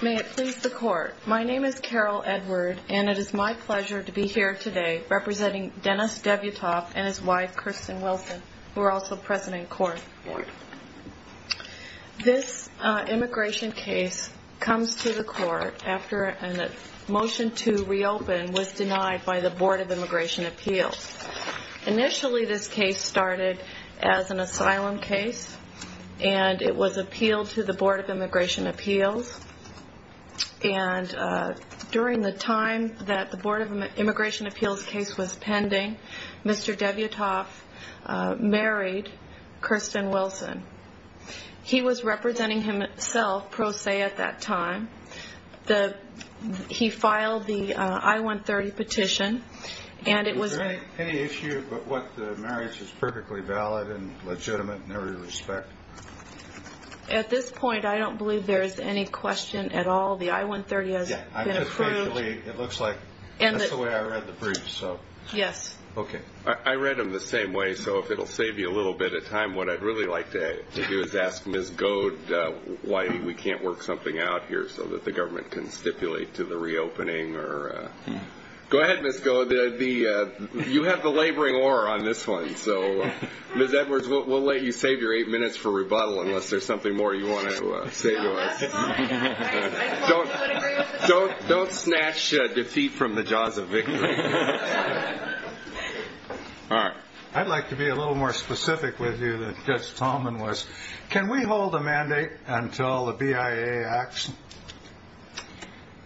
May it please the court, my name is Carol Edward and it is my pleasure to be here today representing Dennis Devyatov and his wife Kirsten Wilson who are also present in court. This immigration case comes to the court after a motion to reopen was denied by the Board of Immigration Appeals. Initially this case started as an asylum case and it was appealed to the Board of Immigration Appeals and during the time that the Board of Immigration Appeals case was pending Mr. Devyatov married Kirsten Wilson. He was representing himself pro se at that time. He filed the I-130 petition and it was... Is there any issue with what the marriage is perfectly valid and legitimate in every respect? At this point I don't believe there's any question at all. The I-130 has been approved. It looks like that's the way I read the brief. Yes. Okay. I read them the same way so if it'll save you a little bit of time what I'd really like to do is ask Ms. Goad why we can't work something out here so that the government can stipulate to the reopening or... Go ahead Ms. Goad. You have the laboring aura on this one so Ms. Edwards we'll let you save your eight minutes for rebuttal unless there's something more you want to say to us. Don't snatch defeat from the jaws of victory. I'd like to be a little more specific with you than Judge Talman was. Can we hold a mandate until the BIA acts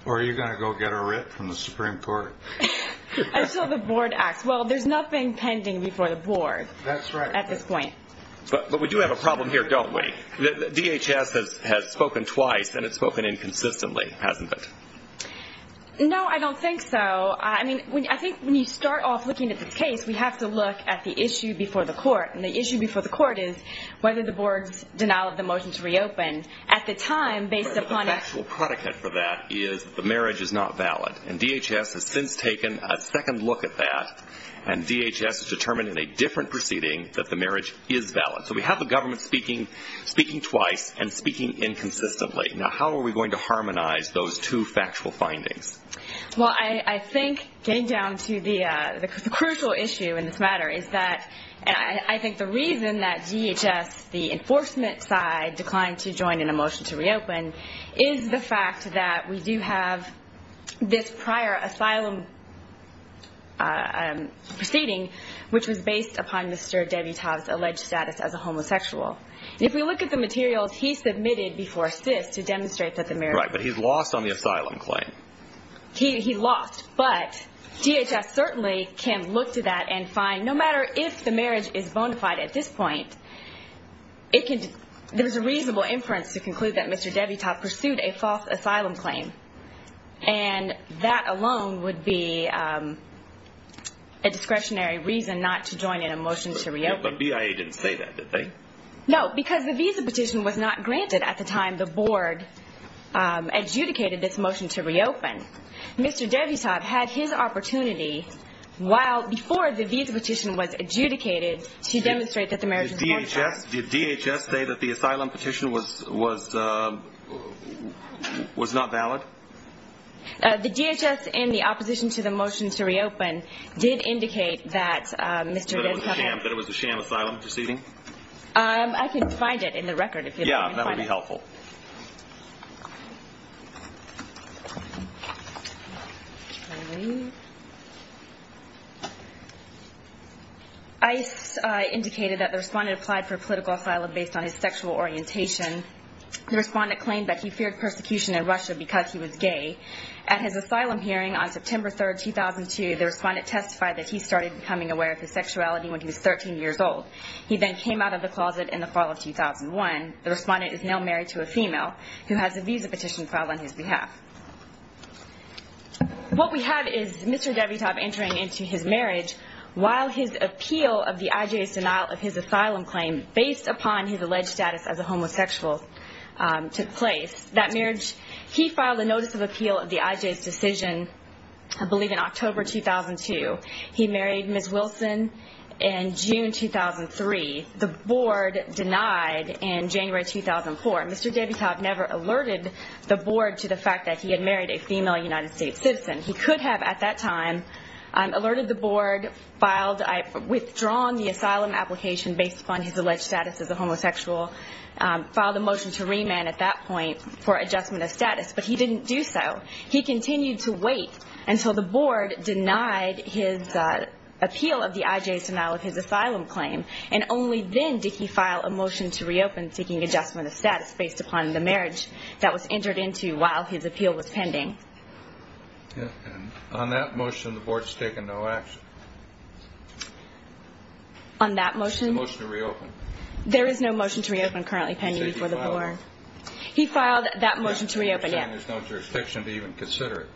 or are you going to go get a writ from the Supreme Court? Until the Board acts. Well there's nothing pending before the Board at this point. But we do have a problem here don't we? The DHS has spoken twice and it's spoken inconsistently hasn't it? No I don't think so. I mean I think when you start off looking at the case we have to look at the issue before the court and the issue before the court is whether the Board's denial of the motion to reopen at the time based upon... The actual prodigate for that is the marriage is not valid and DHS has since taken a second look at that and DHS has determined in a different proceeding that the marriage is valid. So we have the government speaking twice and speaking inconsistently. Now how are we going to harmonize those two factual findings? Well I think getting down to the crucial issue in this matter is that I think the reason that DHS, the enforcement side, declined to join in a motion to reopen is the fact that we do have this prior asylum proceeding which was based upon Mr. Debutov's alleged status as a homosexual. If we look at the materials he submitted before CIS, to demonstrate that the marriage... Right, but he's lost on the asylum claim. He lost, but DHS certainly can look to that and find no matter if the marriage is bona fide at this point, there's a reasonable inference to conclude that Mr. Debutov pursued a false asylum claim and that alone would be a discretionary reason not to join in a motion to reopen. But BIA didn't say that did they? No, because the visa petition was not granted at the time the Board adjudicated this motion to reopen. Mr. Debutov had his opportunity while before the visa petition was adjudicated to demonstrate that the marriage... Did DHS say that the asylum petition was not valid? No. The DHS in the opposition to the motion to reopen did indicate that Mr. Debutov... That it was a sham asylum proceeding? I can find it in the record if you'd like. Yeah, that would be helpful. ICE indicated that the respondent applied for political asylum based on his sexual orientation. The respondent claimed that he feared persecution in Russia because he was gay. At his asylum hearing on September 3, 2002, the respondent testified that he started becoming aware of his sexuality when he was 13 years old. He then came out of the closet in the fall of 2001. The respondent is now married to a woman. What we have is Mr. Debutov entering into his marriage while his appeal of the IJ's denial of his asylum claim based upon his alleged status as a homosexual took place. He filed a notice of appeal of the IJ's decision, I believe in October 2002. He married Ms. Wilson in June 2003. The Board denied in January 2004. Mr. Debutov never alerted the Board to the fact that he had married a female United States citizen. He could have at that time alerted the Board, withdrawn the asylum application based upon his alleged status as a homosexual, filed a motion to remand at that point for adjustment of status, but he didn't do so. He continued to wait until the Board denied his appeal of the IJ's denial of his asylum claim, and only then did he file a motion to reopen seeking adjustment of status based upon the marriage that was entered into while his appeal was pending. On that motion, the Board has taken no action. On that motion? The motion to reopen. There is no motion to reopen currently pending before the Board. He filed that motion to reopen, yes. You're saying there's no jurisdiction to even consider it.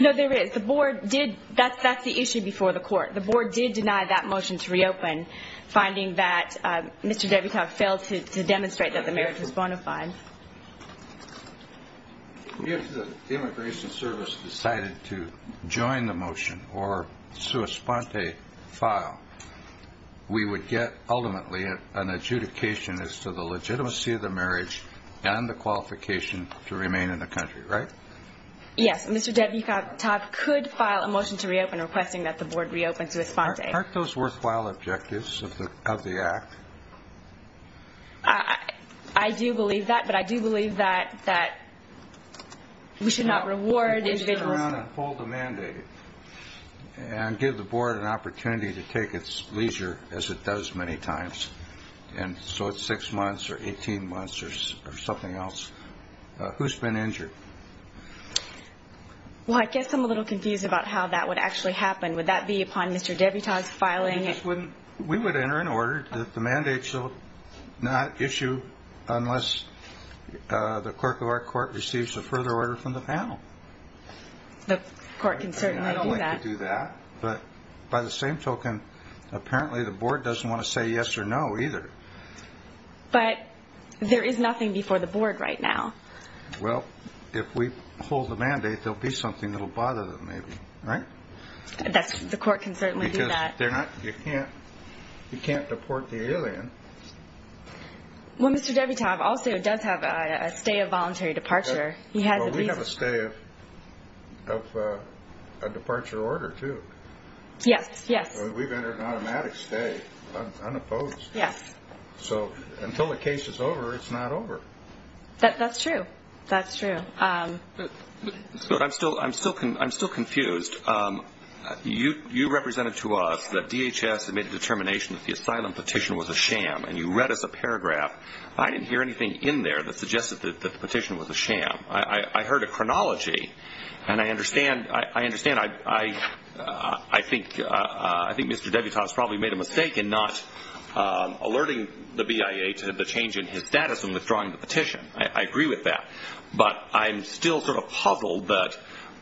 No, there is. That's the issue before the Court. The Board did deny that motion to reopen, finding that Mr. Debutov failed to demonstrate that the marriage was bona fide. If the Immigration Service decided to join the motion or sua sponte file, we would get ultimately an adjudication as to the legitimacy of the marriage and the qualification to remain in the country, right? Yes, Mr. Debutov could file a motion to reopen requesting that the Board reopen sua sponte. Aren't those worthwhile objectives of the Act? I do believe that, but I do believe that we should not reward individuals. Mr. Brown, uphold the mandate and give the Board an opportunity to take its leisure as it does many times. And so it's six months or 18 months or something else. Who's been injured? Well, I guess I'm a little confused about how that would actually happen. Would that be upon Mr. Debutov's filing? We would enter an order that the mandate shall not issue unless the Clerk of our Court receives a further order from the panel. The Court can certainly do that. I'd like to do that, but by the same token, apparently the Board doesn't want to say yes or no either. But there is nothing before the Board right now. Well, if we uphold the mandate, there'll be something that'll bother them maybe, right? The Court can certainly do that. You can't deport the alien. Well, Mr. Debutov also does have a stay of voluntary departure. Well, we have a stay of a departure order too. Yes, yes. We've entered an automatic stay, unopposed. Yes. So until the case is over, it's not over. That's true. That's true. I'm still confused. You represented to us that DHS had made a determination that the asylum petition was a sham, and you read us a paragraph. I didn't hear anything in there that suggested that the petition was a sham. I heard a chronology, and I understand. I think Mr. Debutov has probably made a mistake in not alerting the BIA to the change in his status in withdrawing the petition. I agree with that. But I'm still sort of puzzled that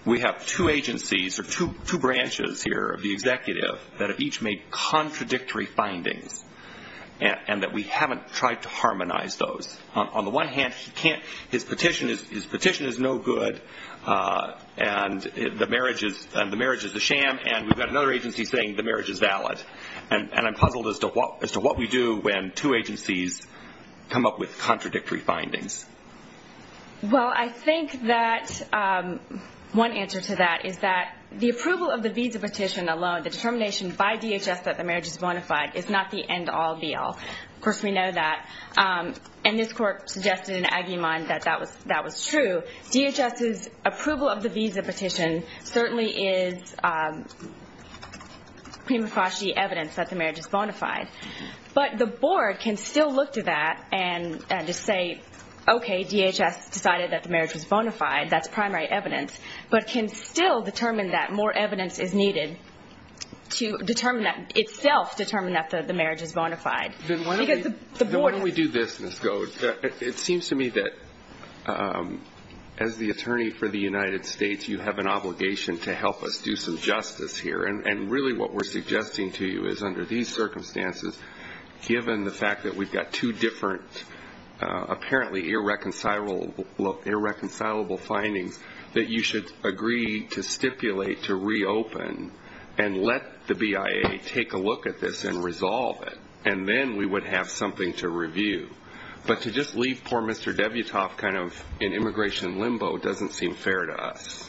we have two agencies or two branches here of the executive that have each made contradictory findings, and that we haven't tried to harmonize those. On the one hand, his petition is no good, and the marriage is a sham, and we've got another agency saying the marriage is valid. And I'm puzzled as to what we do when two agencies come up with contradictory findings. Well, I think that one answer to that is that the approval of the visa petition alone, the determination by DHS that the marriage is bona fide, is not the end-all, be-all. Of course, we know that. And this court suggested in Aguiman that that was true. DHS's approval of the visa petition certainly is prima facie evidence that the marriage is bona fide. But the board can still look to that and just say, okay, DHS decided that the marriage was bona fide, that's primary evidence, but can still determine that more evidence is needed to itself determine that the marriage is bona fide. Why don't we do this, Ms. Goad? It seems to me that as the attorney for the United States, you have an obligation to help us do some justice here. And really what we're suggesting to you is under these circumstances, given the fact that we've got two different apparently irreconcilable findings, that you should agree to stipulate to reopen and let the BIA take a look at this and resolve it. And then we would have something to review. But to just leave poor Mr. Debutoff kind of in immigration limbo doesn't seem fair to us.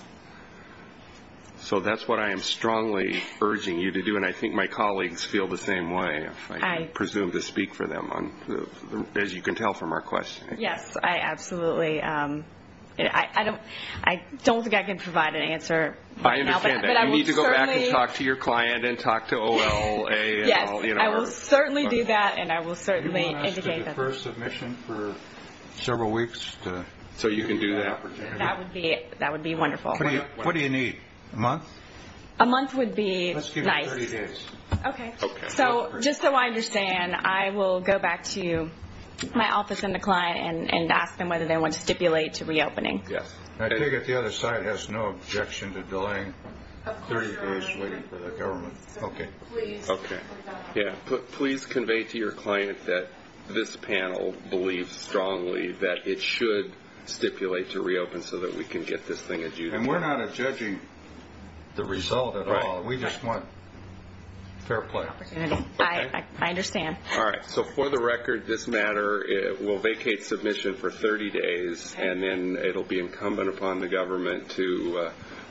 So that's what I am strongly urging you to do, and I think my colleagues feel the same way, if I can presume to speak for them, as you can tell from our questioning. Yes, absolutely. I don't think I can provide an answer right now. I understand that. You need to go back and talk to your client and talk to OLA. Yes, I will certainly do that, and I will certainly indicate that. Do you want us to defer submission for several weeks? So you can do that? That would be wonderful. What do you need, a month? A month would be nice. Let's give you 30 days. Okay. So just so I understand, I will go back to my office and the client and ask them whether they want to stipulate to reopening. Yes. I take it the other side has no objection to delaying 30 days waiting for the government. Okay. Please convey to your client that this panel believes strongly that it should stipulate to reopen so that we can get this thing adjusted. And we're not judging the result at all. We just want fair play. I understand. All right. So for the record, this matter will vacate submission for 30 days, and then it will be incumbent upon the government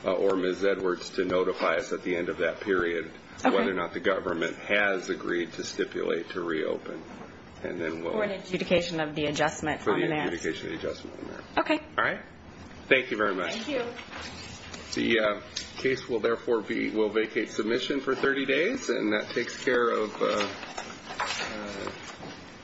or Ms. Edwards to notify us at the end of that period whether or not the government has agreed to stipulate to reopen. For the adjudication of the adjustment. For the adjudication of the adjustment. Okay. All right. Thank you very much. Thank you. The case will vacate submission for 30 days, and that takes care of